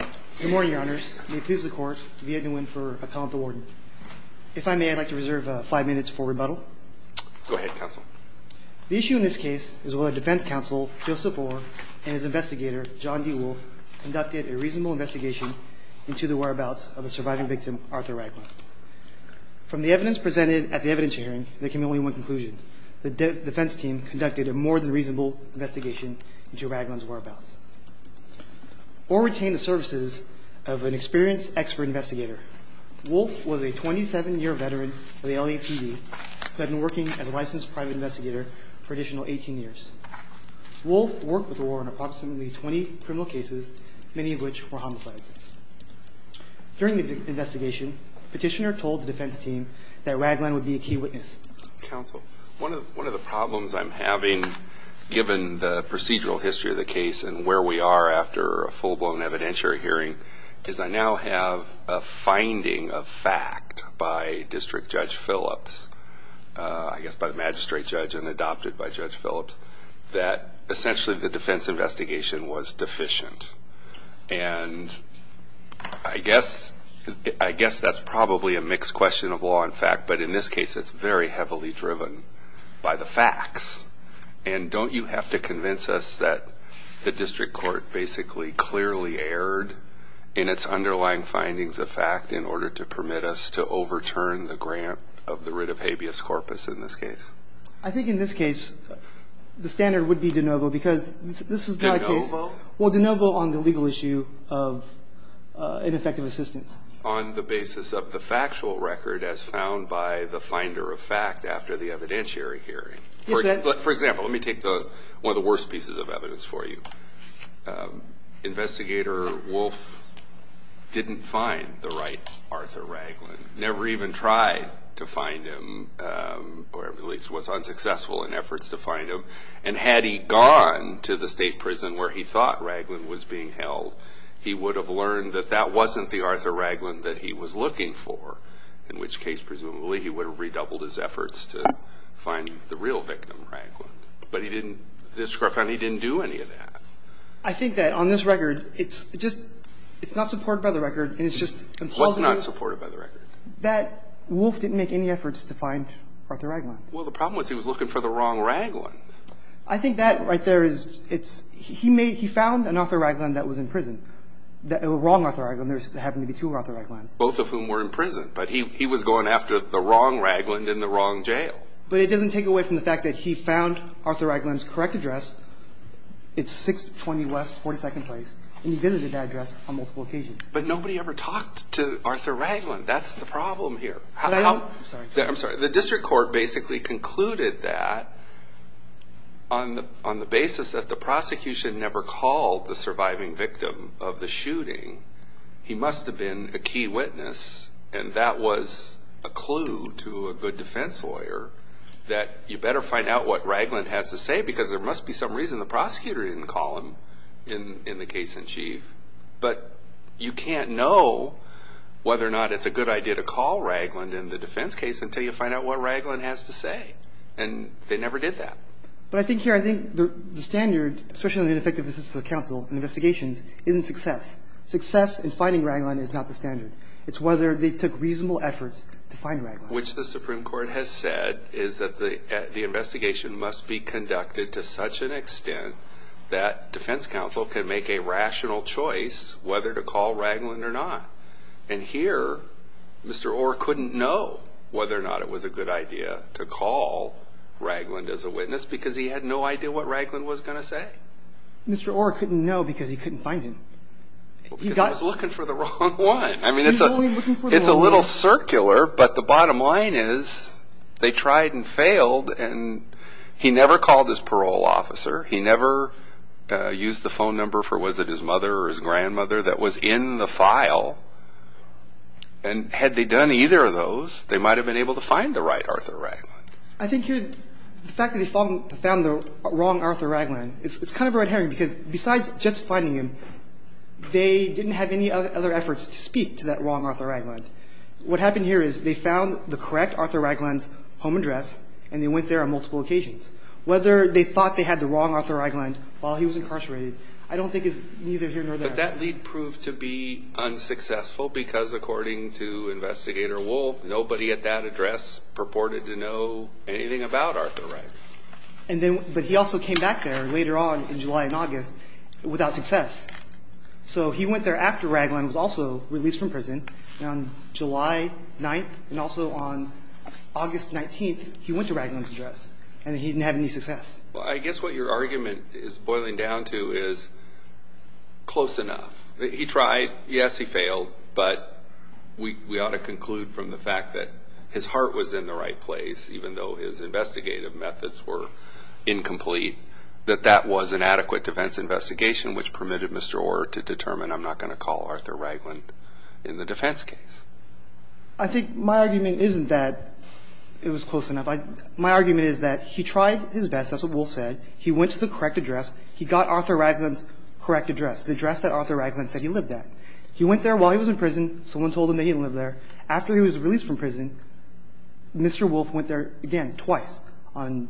Good morning, Your Honors. May it please the Court, Viet Nguyen for Appellant to Warden. If I may, I'd like to reserve five minutes for rebuttal. Go ahead, Counsel. The issue in this case is whether Defense Counsel Joseph Orr and his investigator, John D. Wolf, conducted a reasonable investigation into the whereabouts of the surviving victim, Arthur Ragland. From the evidence presented at the evidence hearing, there can be only one conclusion. The defense team conducted a more than reasonable investigation into Ragland's whereabouts. Orr retained the services of an experienced expert investigator. Wolf was a 27-year veteran of the LAPD who had been working as a licensed private investigator for an additional 18 years. Wolf worked with Orr on approximately 20 criminal cases, many of which were homicides. During the investigation, the petitioner told the defense team that Ragland would be a key witness. Counsel, one of the problems I'm having, given the procedural history of the case and where we are after a full-blown evidentiary hearing, is I now have a finding of fact by District Judge Phillips, I guess by the magistrate judge and adopted by Judge Phillips, that essentially the defense investigation was deficient. And I guess that's probably a mixed question of law and fact, but in this case it's very heavily driven by the facts. And don't you have to convince us that the district court basically clearly erred in its underlying findings of fact in order to permit us to overturn the grant of the writ of habeas corpus in this case? I think in this case the standard would be de novo because this is not a case. De novo? Well, de novo on the legal issue of ineffective assistance. On the basis of the factual record as found by the finder of fact after the evidentiary hearing. Yes, Your Honor. For example, let me take one of the worst pieces of evidence for you. Investigator Wolf didn't find the right Arthur Ragland, never even tried to find him, or at least was unsuccessful in efforts to find him. And had he gone to the state prison where he thought Ragland was being held, he would have learned that that wasn't the Arthur Ragland that he was looking for, in which case presumably he would have redoubled his efforts to find the real victim, Ragland. But he didn't, the district court found he didn't do any of that. I think that on this record it's just, it's not supported by the record, and it's just implausibly. What's not supported by the record? That Wolf didn't make any efforts to find Arthur Ragland. Well, the problem was he was looking for the wrong Ragland. I think that right there is, it's, he made, he found an Arthur Ragland that was in prison, the wrong Arthur Ragland, there happened to be two Arthur Raglands. Both of whom were in prison, but he was going after the wrong Ragland in the wrong jail. But it doesn't take away from the fact that he found Arthur Ragland's correct address, it's 620 West 42nd Place, and he visited that address on multiple occasions. But nobody ever talked to Arthur Ragland. That's the problem here. I'm sorry. I'm sorry. The district court basically concluded that on the basis that the prosecution never called the surviving victim of the shooting, he must have been a key witness, and that was a clue to a good defense lawyer that you better find out what Ragland has to say because there must be some reason the prosecutor didn't call him in the case in chief. But you can't know whether or not it's a good idea to call Ragland in the defense case until you find out what Ragland has to say. And they never did that. But I think here, I think the standard, especially on ineffective assistance of counsel in investigations, isn't success. Success in finding Ragland is not the standard. It's whether they took reasonable efforts to find Ragland. Which the Supreme Court has said is that the investigation must be conducted to such an extent that defense counsel can make a rational choice whether to call Ragland or not. And here, Mr. Orr couldn't know whether or not it was a good idea to call Ragland as a witness because he had no idea what Ragland was going to say. Mr. Orr couldn't know because he couldn't find him. Because he was looking for the wrong one. I mean, it's a little circular, but the bottom line is they tried and failed, and he never called his parole officer. He never used the phone number for, was it his mother or his grandmother, that was in the file. And had they done either of those, they might have been able to find the right Arthur Ragland. I think here, the fact that they found the wrong Arthur Ragland, it's kind of a red herring because besides just finding him, they didn't have any other efforts to speak to that wrong Arthur Ragland. What happened here is they found the correct Arthur Ragland's home address, and they went there on multiple occasions. Whether they thought they had the wrong Arthur Ragland while he was incarcerated, I don't think is neither here nor there. But that lead proved to be unsuccessful because according to Investigator Wolfe, nobody at that address purported to know anything about Arthur Ragland. But he also came back there later on in July and August without success. So he went there after Ragland was also released from prison, and on July 9th and also on August 19th, he went to Ragland's address, and he didn't have any success. Well, I guess what your argument is boiling down to is close enough. He tried. Yes, he failed. But we ought to conclude from the fact that his heart was in the right place, even though his investigative methods were incomplete, that that was an adequate defense investigation, which permitted Mr. Orr to determine, I'm not going to call Arthur Ragland in the defense case. I think my argument isn't that it was close enough. My argument is that he tried his best. That's what Wolfe said. He went to the correct address. He got Arthur Ragland's correct address, the address that Arthur Ragland said he lived at. He went there while he was in prison. Someone told him that he didn't live there. After he was released from prison, Mr. Wolfe went there again twice, on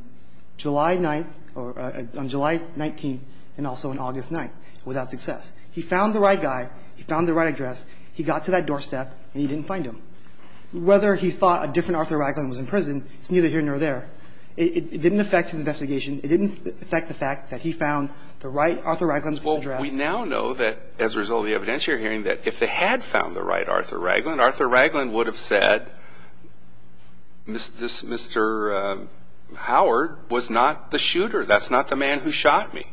July 9th or on July 19th and also on August 9th without success. He found the right guy. He found the right address. He got to that doorstep, and he didn't find him. Whether he thought a different Arthur Ragland was in prison, it's neither here nor there. It didn't affect his investigation. It didn't affect the fact that he found the right Arthur Ragland's address. Well, we now know that, as a result of the evidence you're hearing, that if they had found the right Arthur Ragland, Arthur Ragland would have said, Mr. Howard was not the shooter. That's not the man who shot me.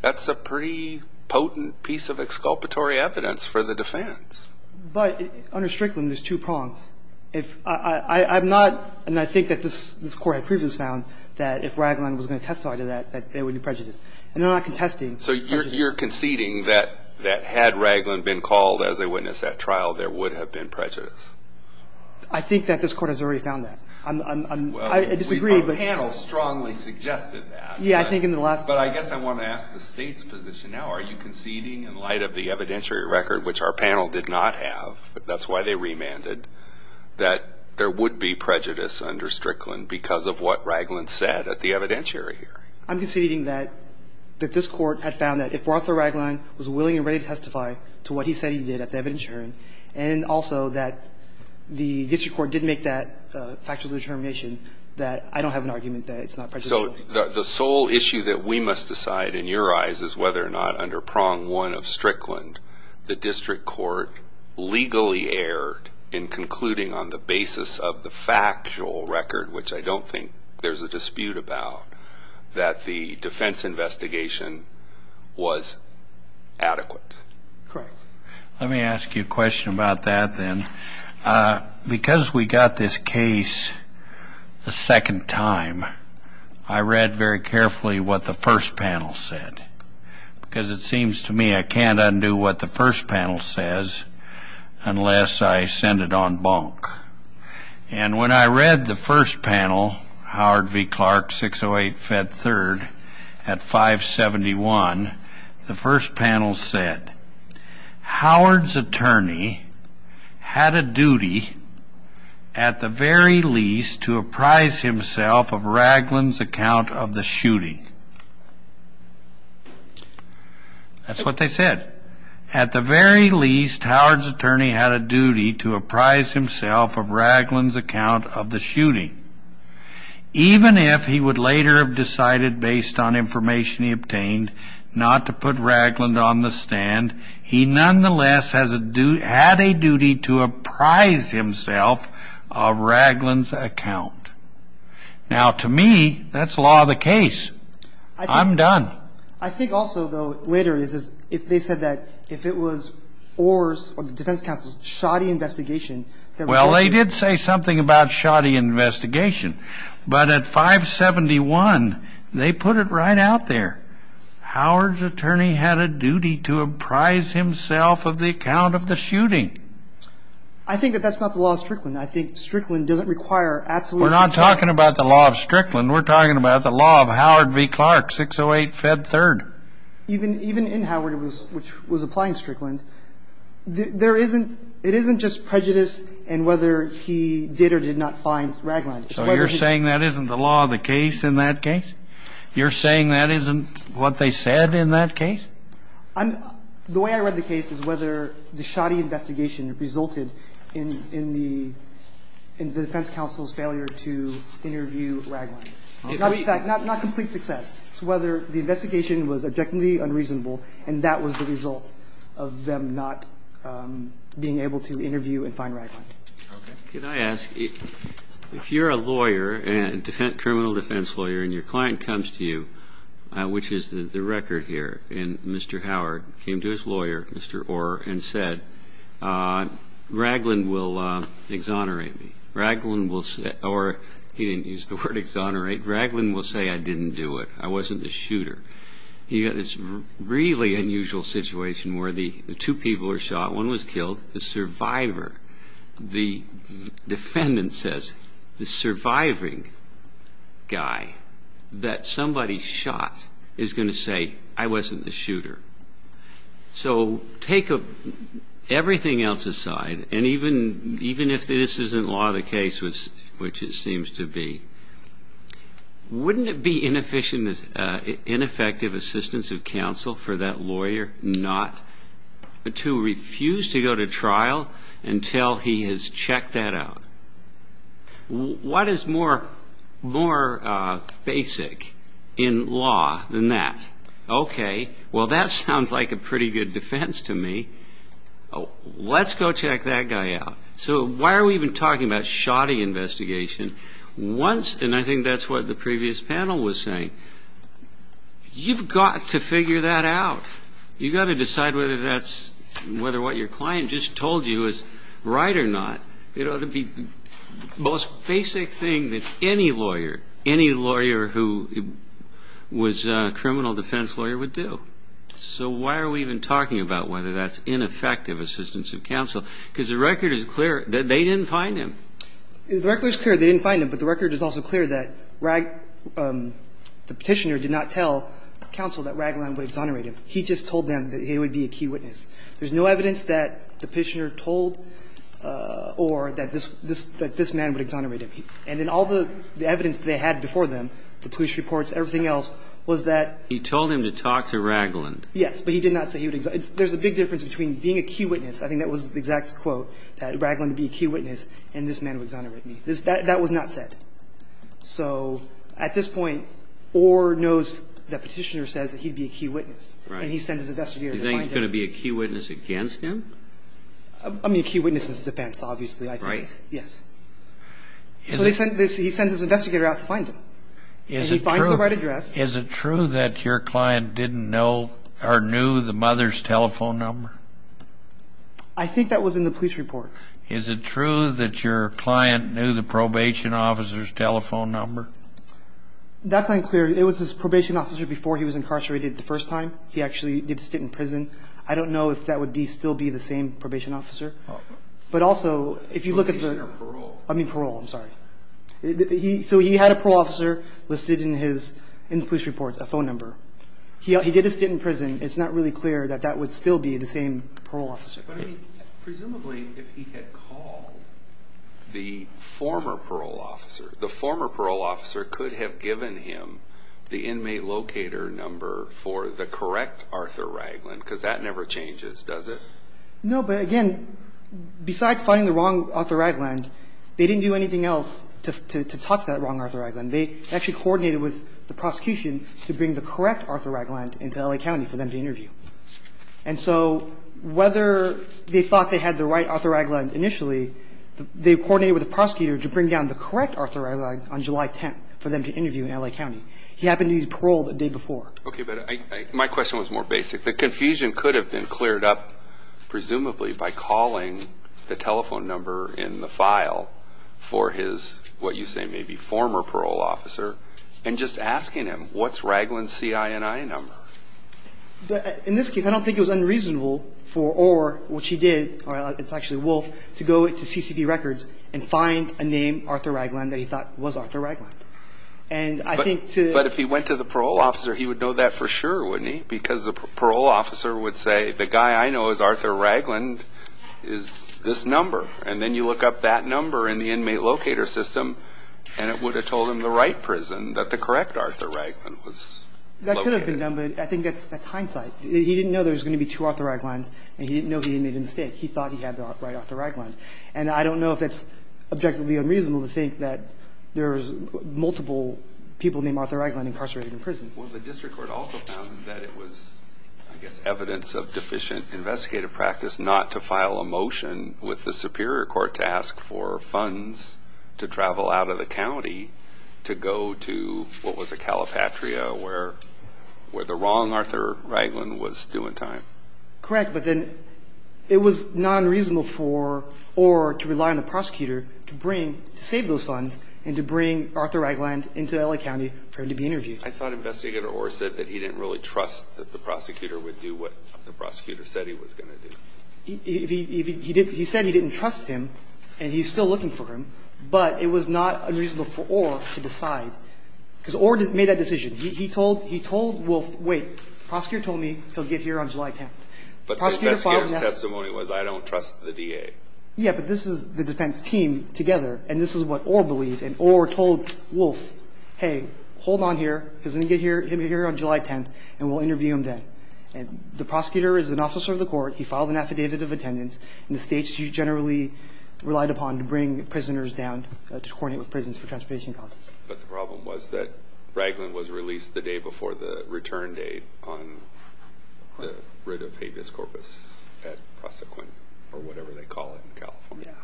That's a pretty potent piece of exculpatory evidence for the defense. But under Strickland, there's two prongs. I have not, and I think that this Court had previously found, that if Ragland was going to testify to that, that there would be prejudice. And they're not contesting prejudice. So you're conceding that had Ragland been called as a witness at trial, there would have been prejudice? I think that this Court has already found that. I disagree, but we've already found that. Well, our panel strongly suggested that. Yeah, I think in the last trial. But I guess I want to ask the State's position now. Are you conceding, in light of the evidentiary record, which our panel did not have, that's why they remanded, that there would be prejudice under Strickland because of what Ragland said at the evidentiary hearing? I'm conceding that this Court had found that if Arthur Ragland was willing and ready to testify to what he said he did at the evidentiary hearing, and also that the district court did make that factual determination, that I don't have an argument that it's not prejudicial. So the sole issue that we must decide, in your eyes, is whether or not under prong one of Strickland, the district court legally erred in concluding on the basis of the factual record, which I don't think there's a dispute about, that the defense investigation was adequate. Correct. Let me ask you a question about that then. Because we got this case a second time, I read very carefully what the first panel said, because it seems to me I can't undo what the first panel says unless I send it on bonk. And when I read the first panel, Howard v. Clark, 608, Fed 3rd, at 571, the first panel said, Howard's attorney had a duty, at the very least, to apprise himself of Ragland's account of the shooting. That's what they said. At the very least, Howard's attorney had a duty to apprise himself of Ragland's account of the shooting, even if he would later have decided, based on information he obtained, not to put Ragland on the stand, he nonetheless had a duty to apprise himself of Ragland's account. Now, to me, that's the law of the case. I'm done. I think also, though, later, if they said that if it was Orr's or the defense counsel's shoddy investigation, Well, they did say something about shoddy investigation. But at 571, they put it right out there. Howard's attorney had a duty to apprise himself of the account of the shooting. I think that that's not the law of Strickland. I think Strickland doesn't require absolute... We're not talking about the law of Strickland. We're talking about the law of Howard v. Clark, 608, Fed 3rd. Even in Howard, which was applying Strickland, there isn't, it isn't just prejudice and whether he did or did not find Ragland. So you're saying that isn't the law of the case in that case? You're saying that isn't what they said in that case? The way I read the case is whether the shoddy investigation resulted in the defense counsel's failure to interview Ragland. Not complete success. So whether the investigation was objectively unreasonable, and that was the result of them not being able to interview and find Ragland. Okay. Can I ask, if you're a lawyer, a criminal defense lawyer, and your client comes to you, which is the record here, and Mr. Howard came to his lawyer, Mr. Orr, and said, Ragland will exonerate me. Ragland will say, or he didn't use the word exonerate, Ragland will say I didn't do it. I wasn't the shooter. You've got this really unusual situation where the two people are shot, one was killed, the survivor, the defendant says the surviving guy that somebody shot is going to say I wasn't the shooter. So take everything else aside, and even if this isn't law of the case, which it seems to be, wouldn't it be ineffective assistance of counsel for that lawyer not to refuse to go to trial until he has checked that out? What is more basic in law than that? Okay. Well, that sounds like a pretty good defense to me. Let's go check that guy out. So why are we even talking about shoddy investigation? And I think that's what the previous panel was saying. You've got to figure that out. You've got to decide whether what your client just told you is right or not. The most basic thing that any lawyer, any lawyer who was a criminal defense lawyer would do. So why are we even talking about whether that's ineffective assistance of counsel? Because the record is clear that they didn't find him. The record is clear they didn't find him, but the record is also clear that the Petitioner did not tell counsel that Ragland would exonerate him. He just told them that he would be a key witness. There's no evidence that the Petitioner told or that this man would exonerate him. And then all the evidence they had before them, the police reports, everything else, was that he told him to talk to Ragland. Yes, but he did not say he would exonerate him. There's a big difference between being a key witness. I think that was the exact quote, that Ragland would be a key witness and this man would exonerate me. That was not said. So at this point, Orr knows that Petitioner says that he'd be a key witness. Right. And he sends his investigator to find him. Do you think he's going to be a key witness against him? I mean, a key witness in his defense, obviously, I think. Right. Yes. So he sends his investigator out to find him. And he finds the right address. Is it true that your client didn't know or knew the mother's telephone number? I think that was in the police report. Is it true that your client knew the probation officer's telephone number? That's unclear. It was his probation officer before he was incarcerated the first time. He actually did sit in prison. I don't know if that would still be the same probation officer. Oh. But also, if you look at the – Probation or parole. I mean parole. I'm sorry. So he had a parole officer listed in his police report, a phone number. He did a stint in prison. It's not really clear that that would still be the same parole officer. But, I mean, presumably if he had called the former parole officer, the former parole officer could have given him the inmate locator number for the correct Arthur Ragland because that never changes, does it? No, but, again, besides finding the wrong Arthur Ragland, they didn't do anything else to touch that wrong Arthur Ragland. They actually coordinated with the prosecution to bring the correct Arthur Ragland into L.A. County for them to interview. And so whether they thought they had the right Arthur Ragland initially, they coordinated with the prosecutor to bring down the correct Arthur Ragland on July 10th for them to interview in L.A. County. He happened to use parole the day before. Okay, but my question was more basic. The confusion could have been cleared up, presumably, by calling the telephone number in the file for his, what you say, maybe former parole officer and just asking him, what's Ragland's CINI number? In this case, I don't think it was unreasonable for Orr, which he did, or it's actually Wolfe, to go to CCP Records and find a name Arthur Ragland that he thought was Arthur Ragland. And I think to the... But if he went to the parole officer, he would know that for sure, wouldn't he? Because the parole officer would say, the guy I know is Arthur Ragland is this number. And then you look up that number in the inmate locator system and it would have told him the right prison, that the correct Arthur Ragland was located. That could have been done, but I think that's hindsight. He didn't know there was going to be two Arthur Raglands and he didn't know he made a mistake. He thought he had the right Arthur Ragland. And I don't know if that's objectively unreasonable to think that there's multiple people named Arthur Ragland incarcerated in prison. Well, the district court also found that it was, I guess, evidence of deficient investigative practice not to file a motion with the superior court to ask for funds to travel out of the county to go to what was a Calipatria where the wrong Arthur Ragland was due in time. Correct, but then it was not unreasonable for Orr to rely on the prosecutor to save those funds and to bring Arthur Ragland into LA County for him to be interviewed. I thought Investigator Orr said that he didn't really trust that the prosecutor would do what the prosecutor said he was going to do. He said he didn't trust him and he's still looking for him, but it was not unreasonable for Orr to decide, because Orr made that decision. He told Wolf, wait, the prosecutor told me he'll get here on July 10th. But the investigator's testimony was I don't trust the DA. Yeah, but this is the defense team together and this is what Orr believed and Orr told Wolf, hey, hold on here, he's going to get here on July 10th and we'll interview him then. The prosecutor is an officer of the court. He filed an affidavit of attendance. In the states, he generally relied upon to bring prisoners down to coordinate with prisons for transportation causes. But the problem was that Ragland was released the day before the return date on the writ of habeas corpus at Prosequent or whatever they call it in California.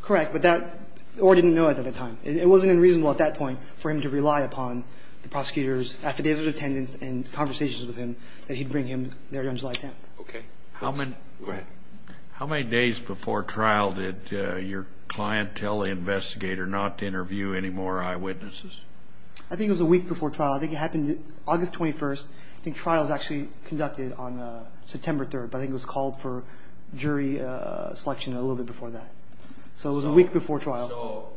Correct, but Orr didn't know it at the time. It wasn't unreasonable at that point for him to rely upon the prosecutor's affidavit of attendance and conversations with him that he'd bring him there on July 10th. Okay. Go ahead. How many days before trial did your client tell the investigator not to interview any more eyewitnesses? I think it was a week before trial. I think it happened August 21st. I think trial was actually conducted on September 3rd, but I think it was called for jury selection a little bit before that. So it was a week before trial.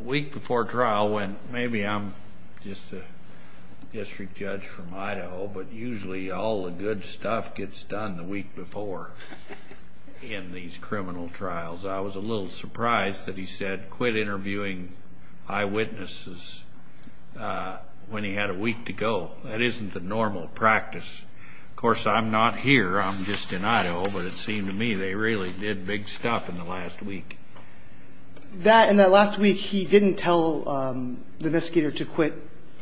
A week before trial when maybe I'm just a district judge from Idaho, but usually all the good stuff gets done the week before in these criminal trials. I was a little surprised that he said quit interviewing eyewitnesses when he had a week to go. That isn't the normal practice. Of course, I'm not here. I'm just in Idaho. But it seemed to me they really did big stuff in the last week. In that last week, he didn't tell the investigator to quit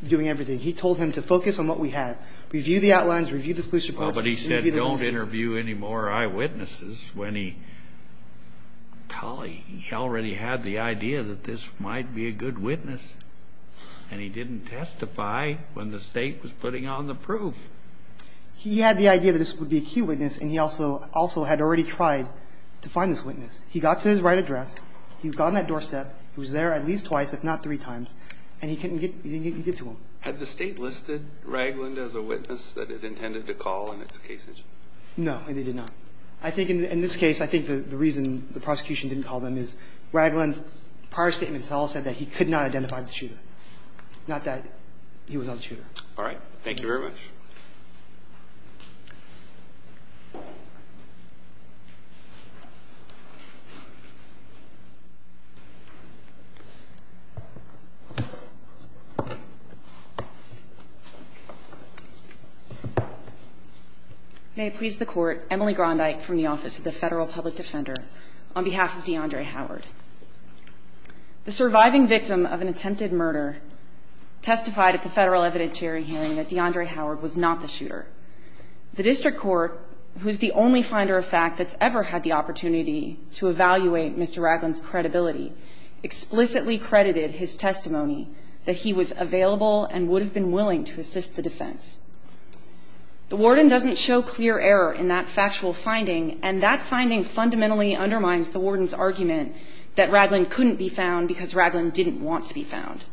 doing everything. He told him to focus on what we had, review the outlines, review the police report. But he said don't interview any more eyewitnesses when he already had the idea that this might be a good witness, and he didn't testify when the state was putting on the proof. He had the idea that this would be a key witness, and he also had already tried to find this witness. He got to his right address. He got on that doorstep. He was there at least twice, if not three times, and he couldn't get to him. Had the state listed Ragland as a witness that it intended to call in its case engine? No, it did not. I think in this case, I think the reason the prosecution didn't call them is Ragland's prior statement itself said that he could not identify the shooter, not that he was on the shooter. All right. Thank you very much. May it please the Court. Emily Grondyke from the Office of the Federal Public Defender on behalf of DeAndre Howard. The surviving victim of an attempted murder testified at the Federal evidentiary hearing that DeAndre Howard was not the shooter. The district court, who is the only finder of fact that's ever had the opportunity to evaluate Mr. Ragland's credibility, explicitly credited his testimony that he was available and would have been willing to assist the defense. The warden doesn't show clear error in that factual finding, and that finding fundamentally undermines the warden's argument that Ragland couldn't be found because Ragland didn't want to be found.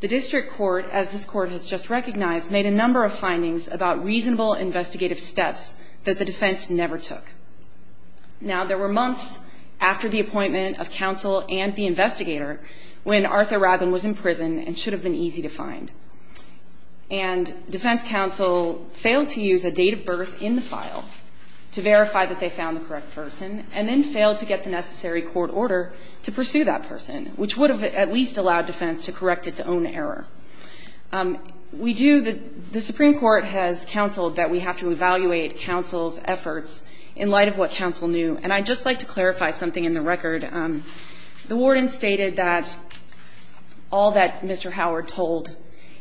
The district court, as this Court has just recognized, made a number of findings about reasonable investigative steps that the defense never took. Now, there were months after the appointment of counsel and the investigator when Arthur Ragland was in prison and should have been easy to find. And defense counsel failed to use a date of birth in the file to verify that they found the correct person and then failed to get the necessary court order to pursue that person, which would have at least allowed defense to correct its own error. We do the – the Supreme Court has counseled that we have to evaluate counsel's efforts in light of what counsel knew, and I'd just like to clarify something in the record. The warden stated that all that Mr. Howard told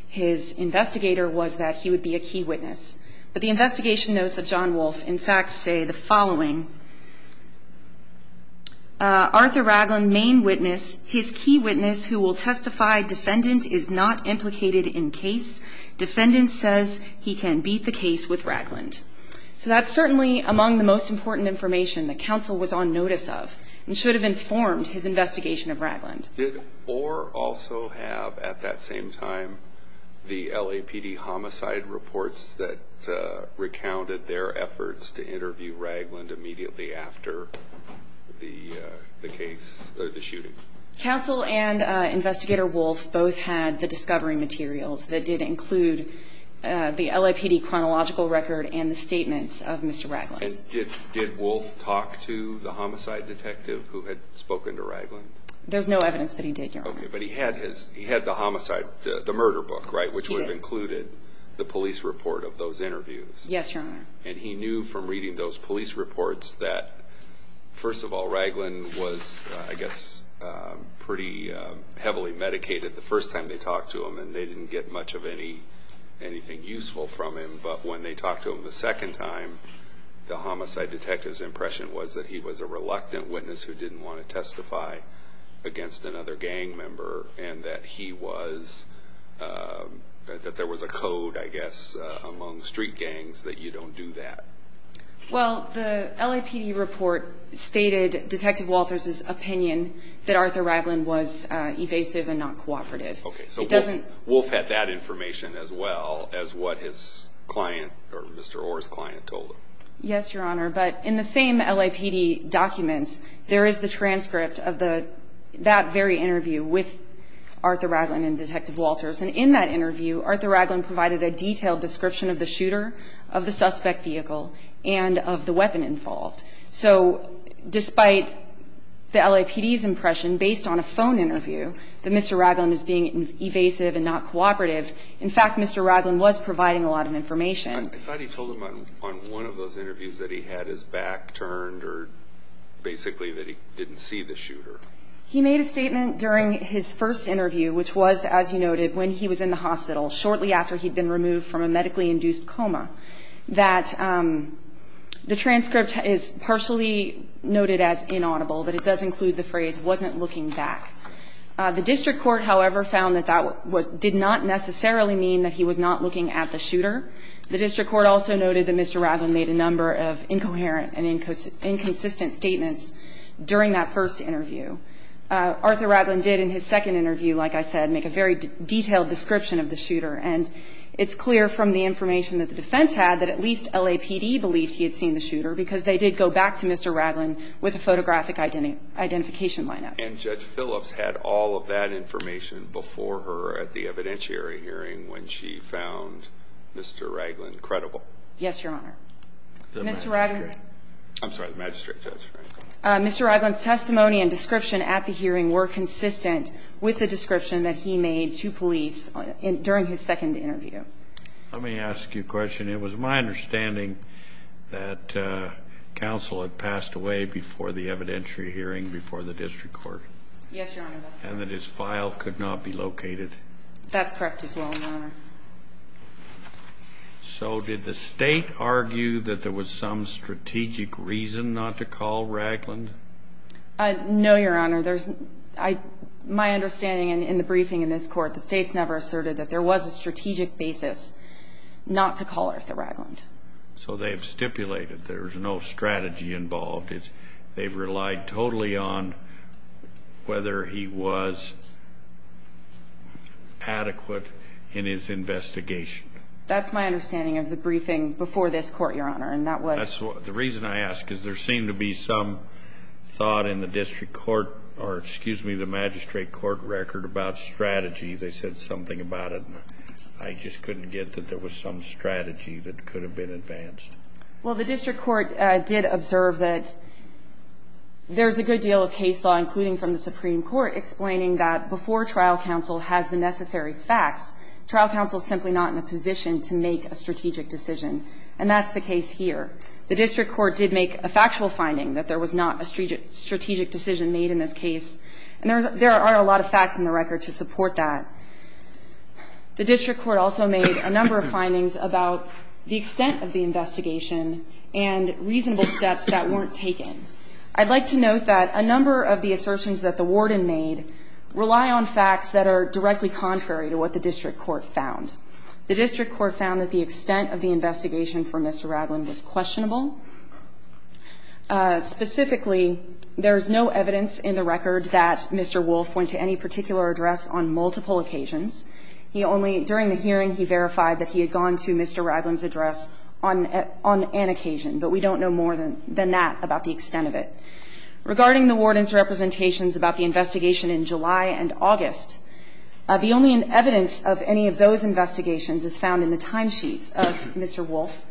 his investigator was that he would be a key witness. But the investigation notes of John Wolfe, in fact, say the following. Arthur Ragland, main witness. His key witness who will testify defendant is not implicated in case. Defendant says he can beat the case with Ragland. So that's certainly among the most important information that counsel was on notice of and should have informed his investigation of Ragland. Did Orr also have at that same time the LAPD homicide reports that recounted their efforts to interview Ragland immediately after the case or the shooting? Counsel and investigator Wolfe both had the discovery materials that did include the LAPD chronological record and the statements of Mr. Ragland. And did Wolfe talk to the homicide detective who had spoken to Ragland? There's no evidence that he did, Your Honor. But he had the homicide, the murder book, right, which would have included the police report of those interviews. Yes, Your Honor. And he knew from reading those police reports that, first of all, Ragland was, I guess, pretty heavily medicated the first time they talked to him, and they didn't get much of anything useful from him. But when they talked to him the second time, the homicide detective's impression was that he was a reluctant witness who didn't want to testify against another gang member and that there was a code, I guess, among street gangs that you don't do that. Well, the LAPD report stated Detective Walters' opinion that Arthur Ragland was evasive and not cooperative. Okay. So Wolfe had that information as well as what his client or Mr. Orr's client told him. Yes, Your Honor. But in the same LAPD documents, there is the transcript of that very interview with Arthur Ragland and Detective Walters. And in that interview, Arthur Ragland provided a detailed description of the shooter, of the suspect vehicle, and of the weapon involved. So despite the LAPD's impression, based on a phone interview, that Mr. Ragland was being evasive and not cooperative, I thought he told him on one of those interviews that he had his back turned or basically that he didn't see the shooter. He made a statement during his first interview, which was, as you noted, when he was in the hospital, shortly after he'd been removed from a medically induced coma, that the transcript is partially noted as inaudible, but it does include the phrase, wasn't looking back. The district court, however, found that that did not necessarily mean that he was not looking at the shooter. The district court also noted that Mr. Ragland made a number of incoherent and inconsistent statements during that first interview. Arthur Ragland did in his second interview, like I said, make a very detailed description of the shooter. And it's clear from the information that the defense had that at least LAPD believed he had seen the shooter because they did go back to Mr. Ragland with a photographic identification line-up. And Judge Phillips had all of that information before her at the evidentiary hearing when she found Mr. Ragland credible. Yes, Your Honor. Mr. Ragland's testimony and description at the hearing were consistent with the description that he made to police during his second interview. Let me ask you a question. It was my understanding that counsel had passed away before the evidentiary hearing before the district court. Yes, Your Honor. And that his file could not be located. That's correct as well, Your Honor. So did the State argue that there was some strategic reason not to call Ragland? No, Your Honor. My understanding in the briefing in this court, the State's never asserted that there was a strategic basis not to call Arthur Ragland. So they have stipulated there is no strategy involved. They've relied totally on whether he was adequate in his investigation. That's my understanding of the briefing before this court, Your Honor. And that was? The reason I ask is there seemed to be some thought in the district court or, excuse me, the magistrate court record about strategy. They said something about it. I just couldn't get that there was some strategy that could have been advanced. Well, the district court did observe that there's a good deal of case law, including from the Supreme Court, explaining that before trial counsel has the necessary facts, trial counsel is simply not in a position to make a strategic decision. And that's the case here. The district court did make a factual finding that there was not a strategic decision made in this case. And there are a lot of facts in the record to support that. The district court also made a number of findings about the extent of the investigation and reasonable steps that weren't taken. I'd like to note that a number of the assertions that the warden made rely on facts that are directly contrary to what the district court found. The district court found that the extent of the investigation for Mr. Ragland was questionable. Specifically, there is no evidence in the record that Mr. Wolf went to any particular address on multiple occasions. He only, during the hearing, he verified that he had gone to Mr. Ragland's address on an occasion. But we don't know more than that about the extent of it. Regarding the warden's representations about the investigation in July and August, the only evidence of any of those investigations is found in the timesheets of Mr. Wolf.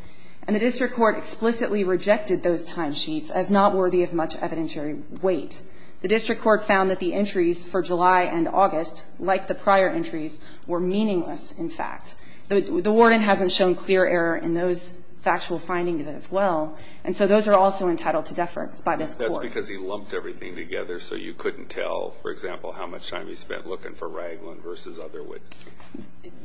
And the district court explicitly rejected those timesheets as not worthy of much evidentiary weight. The district court found that the entries for July and August, like the prior entries, were meaningless, in fact. The warden hasn't shown clear error in those factual findings as well. And so those are also entitled to deference by this Court. That's because he lumped everything together, so you couldn't tell, for example, how much time he spent looking for Ragland versus other witnesses.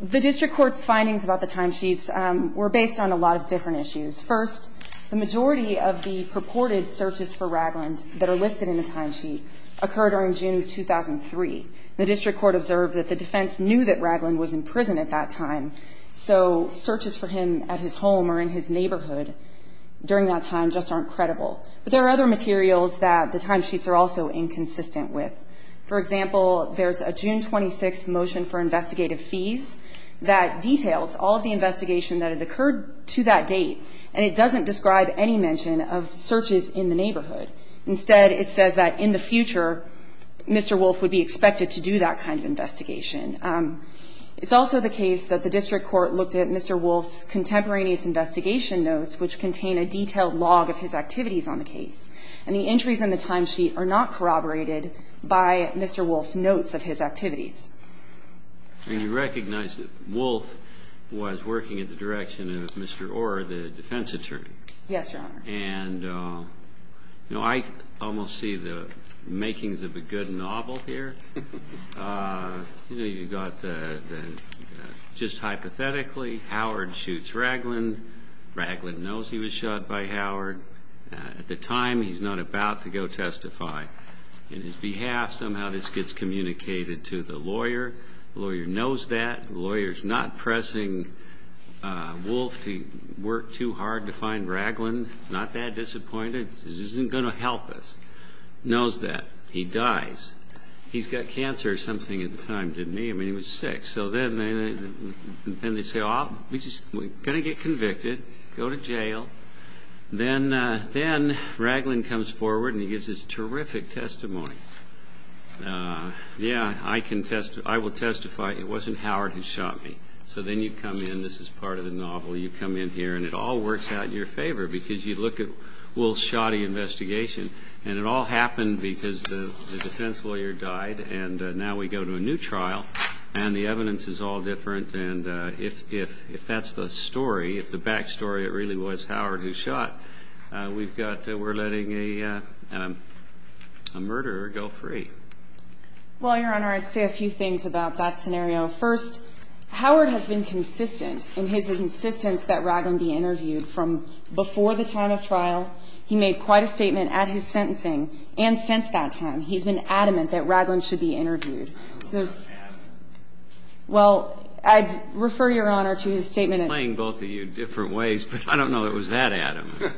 The district court's findings about the timesheets were based on a lot of different issues. First, the majority of the purported searches for Ragland that are listed in the timesheet occurred during June of 2003. The district court observed that the defense knew that Ragland was in prison at that time, so searches for him at his home or in his neighborhood during that time just aren't credible. But there are other materials that the timesheets are also inconsistent with. For example, there's a June 26 motion for investigative fees that details all of the that it occurred to that date, and it doesn't describe any mention of searches in the neighborhood. Instead, it says that in the future, Mr. Wolff would be expected to do that kind of investigation. It's also the case that the district court looked at Mr. Wolff's contemporaneous investigation notes, which contain a detailed log of his activities on the case. And the entries in the timesheet are not corroborated by Mr. Wolff's notes of his activities. And you recognize that Wolff was working in the direction of Mr. Orr, the defense attorney. Yes, Your Honor. And, you know, I almost see the makings of a good novel here. You know, you've got just hypothetically, Howard shoots Ragland. Ragland knows he was shot by Howard. At the time, he's not about to go testify. On his behalf, somehow this gets communicated to the lawyer. The lawyer knows that. The lawyer's not pressing Wolff to work too hard to find Ragland. Not that disappointed. This isn't going to help us. Knows that. He dies. He's got cancer or something at the time, didn't he? I mean, he was sick. So then they say, oh, we're going to get convicted. Go to jail. Then Ragland comes forward, and he gives this terrific testimony. Yeah, I will testify it wasn't Howard who shot me. So then you come in. This is part of the novel. You come in here, and it all works out in your favor because you look at Wolff's shoddy investigation. And it all happened because the defense lawyer died, and now we go to a new trial, and the evidence is all different. And if that's the story, if the back story really was Howard who shot, we've got that we're letting a murderer go free. Well, Your Honor, I'd say a few things about that scenario. First, Howard has been consistent in his insistence that Ragland be interviewed from before the time of trial. He made quite a statement at his sentencing and since that time. He's been adamant that Ragland should be interviewed. Well, I'd refer Your Honor to his statement. I'm playing both of you different ways, but I don't know it was that adamant.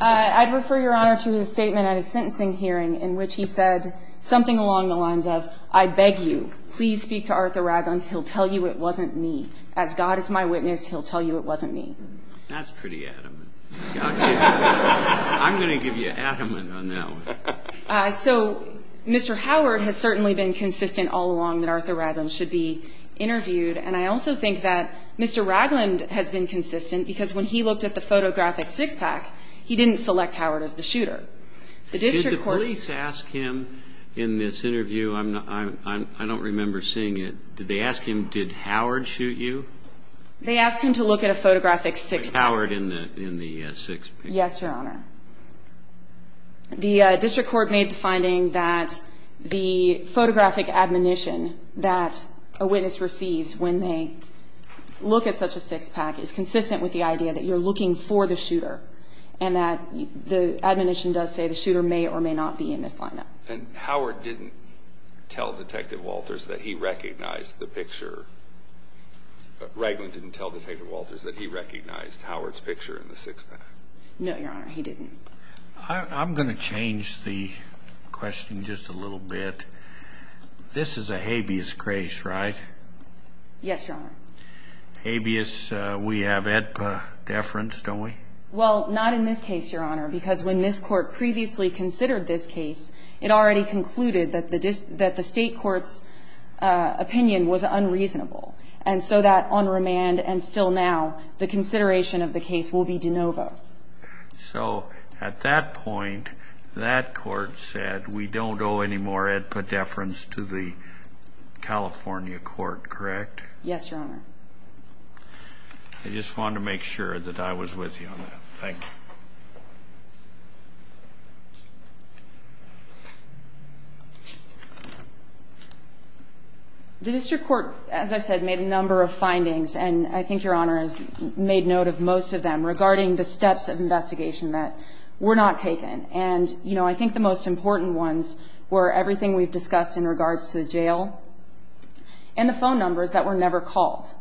I'd refer Your Honor to his statement at his sentencing hearing in which he said something along the lines of, I beg you, please speak to Arthur Ragland. He'll tell you it wasn't me. As God is my witness, he'll tell you it wasn't me. That's pretty adamant. I'm going to give you adamant on that one. So Mr. Howard has certainly been consistent all along that Arthur Ragland should be interviewed, and I also think that Mr. Ragland has been consistent because when he looked at the photographic six-pack, he didn't select Howard as the shooter. Did the police ask him in this interview? I don't remember seeing it. Did they ask him, did Howard shoot you? They asked him to look at a photographic six-pack. Was Howard in the six-pack? Yes, Your Honor. The district court made the finding that the photographic admonition that a witness receives when they look at such a six-pack is consistent with the idea that you're looking for the shooter and that the admonition does say the shooter may or may not be in this lineup. And Howard didn't tell Detective Walters that he recognized the picture. Ragland didn't tell Detective Walters that he recognized Howard's picture in the six-pack. No, Your Honor, he didn't. I'm going to change the question just a little bit. This is a habeas case, right? Yes, Your Honor. Habeas, we have AEDPA deference, don't we? Well, not in this case, Your Honor, because when this court previously considered this case, it already concluded that the state court's opinion was unreasonable, and so that on remand and still now, the consideration of the case will be de novo. So at that point, that court said we don't owe any more AEDPA deference to the California court, correct? Yes, Your Honor. I just wanted to make sure that I was with you on that. Thank you. The district court, as I said, made a number of findings, and I think Your Honor has made note of most of them regarding the steps of investigation that were not taken. And, you know, I think the most important ones were everything we've discussed in regards to the jail and the phone numbers that were never called.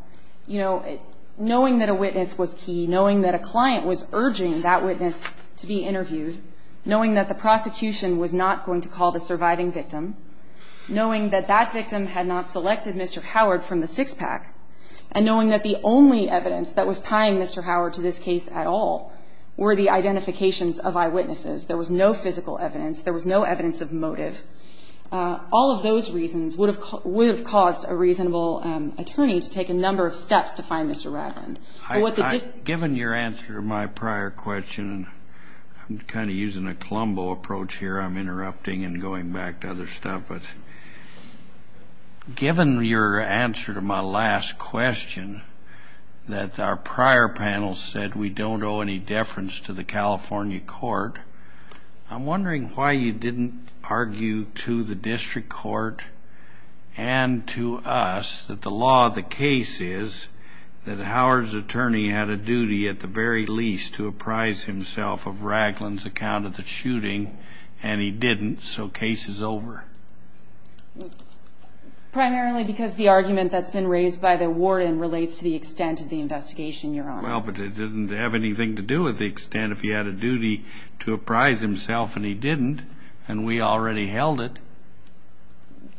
You know, knowing that a witness was key, knowing that a client was urging that witness to be interviewed, knowing that the prosecution was not going to call the surviving victim, knowing that that victim had not selected Mr. Howard from the six-pack, and knowing that the only evidence that was tying Mr. Howard to this case at all were the identifications of eyewitnesses. There was no physical evidence. There was no evidence of motive. All of those reasons would have caused a reasonable attorney to take a number of steps to find Mr. Ratland. Given your answer to my prior question, and I'm kind of using a Colombo approach here, I'm interrupting and going back to other stuff, but given your answer to my last question that our prior panel said we don't owe any deference to the California court, I'm wondering why you didn't argue to the district court and to us that the law of the case is that Howard's attorney had a duty at the very least to apprise himself of Ratland's account of the shooting, and he didn't, so case is over. Primarily because the argument that's been raised by the warden relates to the extent of the investigation, Your Honor. Well, but it didn't have anything to do with the extent. If he had a duty to apprise himself and he didn't, and we already held it.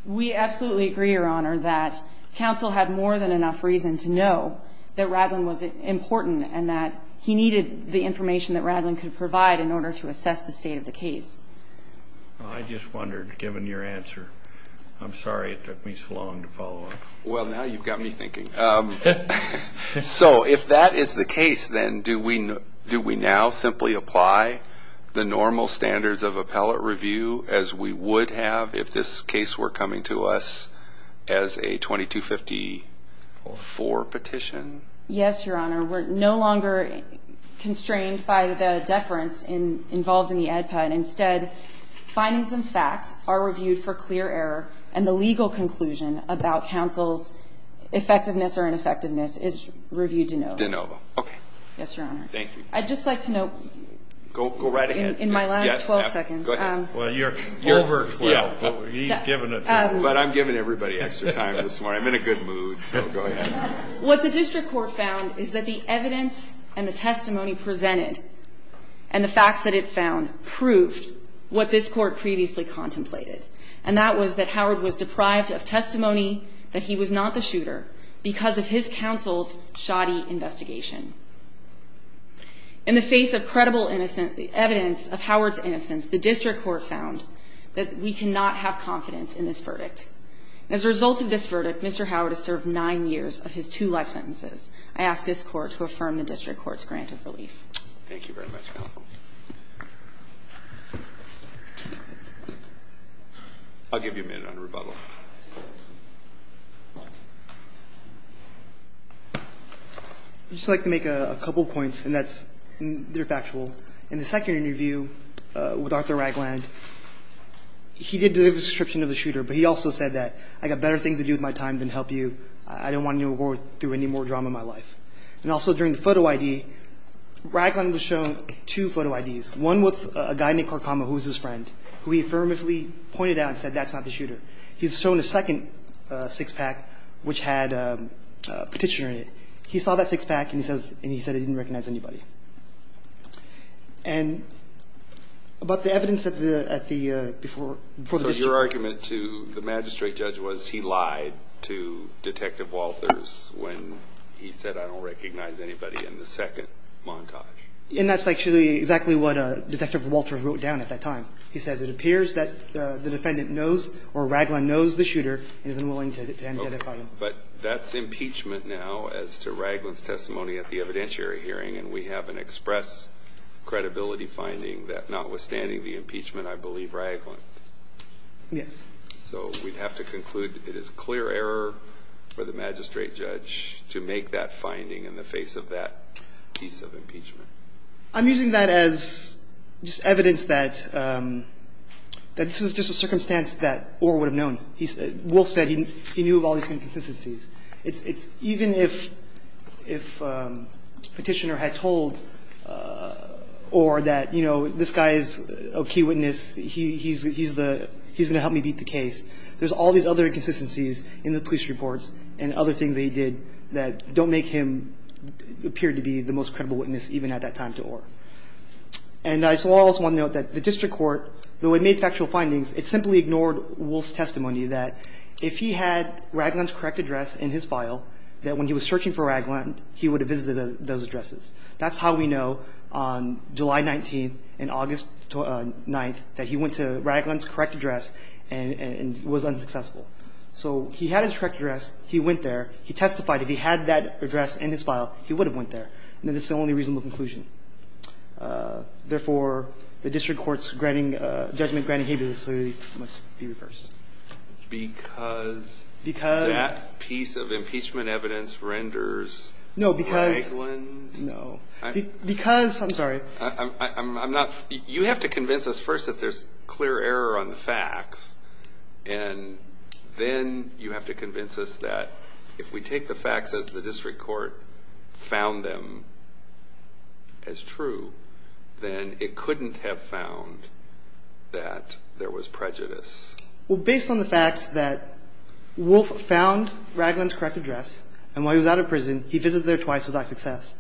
We absolutely agree, Your Honor, that counsel had more than enough reason to know that Ratland was important and that he needed the information that Ratland could provide in order to assess the state of the case. I just wondered, given your answer, I'm sorry it took me so long to follow up. Well, now you've got me thinking. So if that is the case, then do we now simply apply the normal standards of appellate review as we would have if this case were coming to us as a 2254 petition? Yes, Your Honor. We're no longer constrained by the deference involved in the ADPA. Instead, findings and facts are reviewed for clear error, and the legal conclusion about counsel's effectiveness or ineffectiveness is reviewed de novo. De novo. Okay. Yes, Your Honor. Thank you. I'd just like to note. Go right ahead. In my last 12 seconds. Go ahead. Well, you're over 12, but he's given it to you. But I'm giving everybody extra time this morning. I'm in a good mood, so go ahead. What the district court found is that the evidence and the testimony presented and the facts that it found proved what this court previously contemplated, and that was that Howard was deprived of testimony that he was not the shooter because of his counsel's shoddy investigation. In the face of credible evidence of Howard's innocence, the district court found that we cannot have confidence in this verdict. As a result of this verdict, Mr. Howard is served nine years of his two life sentences. I ask this Court to affirm the district court's grant of relief. Thank you very much, counsel. I'll give you a minute on rebuttal. I'd just like to make a couple of points, and they're factual. In the second interview with Arthur Ragland, he did give a description of the shooter, but he also said that I've got better things to do with my time than help you. I don't want to go through any more drama in my life. And also during the photo ID, Ragland was shown two photo IDs, one with a guy named Carcama, who was his friend, who he affirmatively pointed out and said, that's not the shooter. He's shown a second six-pack, which had a petitioner in it. He saw that six-pack and he said he didn't recognize anybody. And about the evidence at the before the district court. So your argument to the magistrate judge was he lied to Detective Walters when he said I don't recognize anybody in the second montage. And that's actually exactly what Detective Walters wrote down at that time. He says it appears that the defendant knows or Ragland knows the shooter and is unwilling to identify him. But that's impeachment now as to Ragland's testimony at the evidentiary hearing, and we have an express credibility finding that notwithstanding the impeachment, I believe Ragland. Yes. So we'd have to conclude it is clear error for the magistrate judge to make that finding in the face of that piece of impeachment. I'm using that as just evidence that this is just a circumstance that Orr would have known. Wolf said he knew of all these inconsistencies. Even if a petitioner had told Orr that, you know, this guy is a key witness. He's going to help me beat the case. There's all these other inconsistencies in the police reports and other things that he did that don't make him appear to be the most credible witness even at that time to Orr. And I also want to note that the district court, though it made factual findings, it simply ignored Wolf's testimony that if he had Ragland's correct address in his file, that when he was searching for Ragland, he would have visited those addresses. That's how we know on July 19th and August 9th that he went to Ragland's correct address and was unsuccessful. So he had his correct address. He went there. He testified. If he had that address in his file, he would have went there. And this is the only reasonable conclusion. Therefore, the district court's judgment granting habeas must be reversed. Because that piece of impeachment evidence renders Ragland? No, because I'm sorry. You have to convince us first that there's clear error on the facts, and then you have to convince us that if we take the facts as the district court found them as true, then it couldn't have found that there was prejudice. Well, based on the facts that Wolf found Ragland's correct address and while he was out of prison, he visited there twice without success,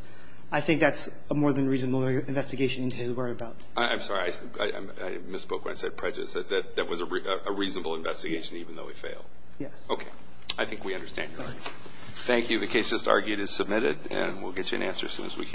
I think that's a more than reasonable investigation into his whereabouts. I'm sorry. I misspoke when I said prejudice. That was a reasonable investigation even though he failed. Yes. Okay. I think we understand your argument. Thank you. The case just argued is submitted, and we'll get you an answer as soon as we can.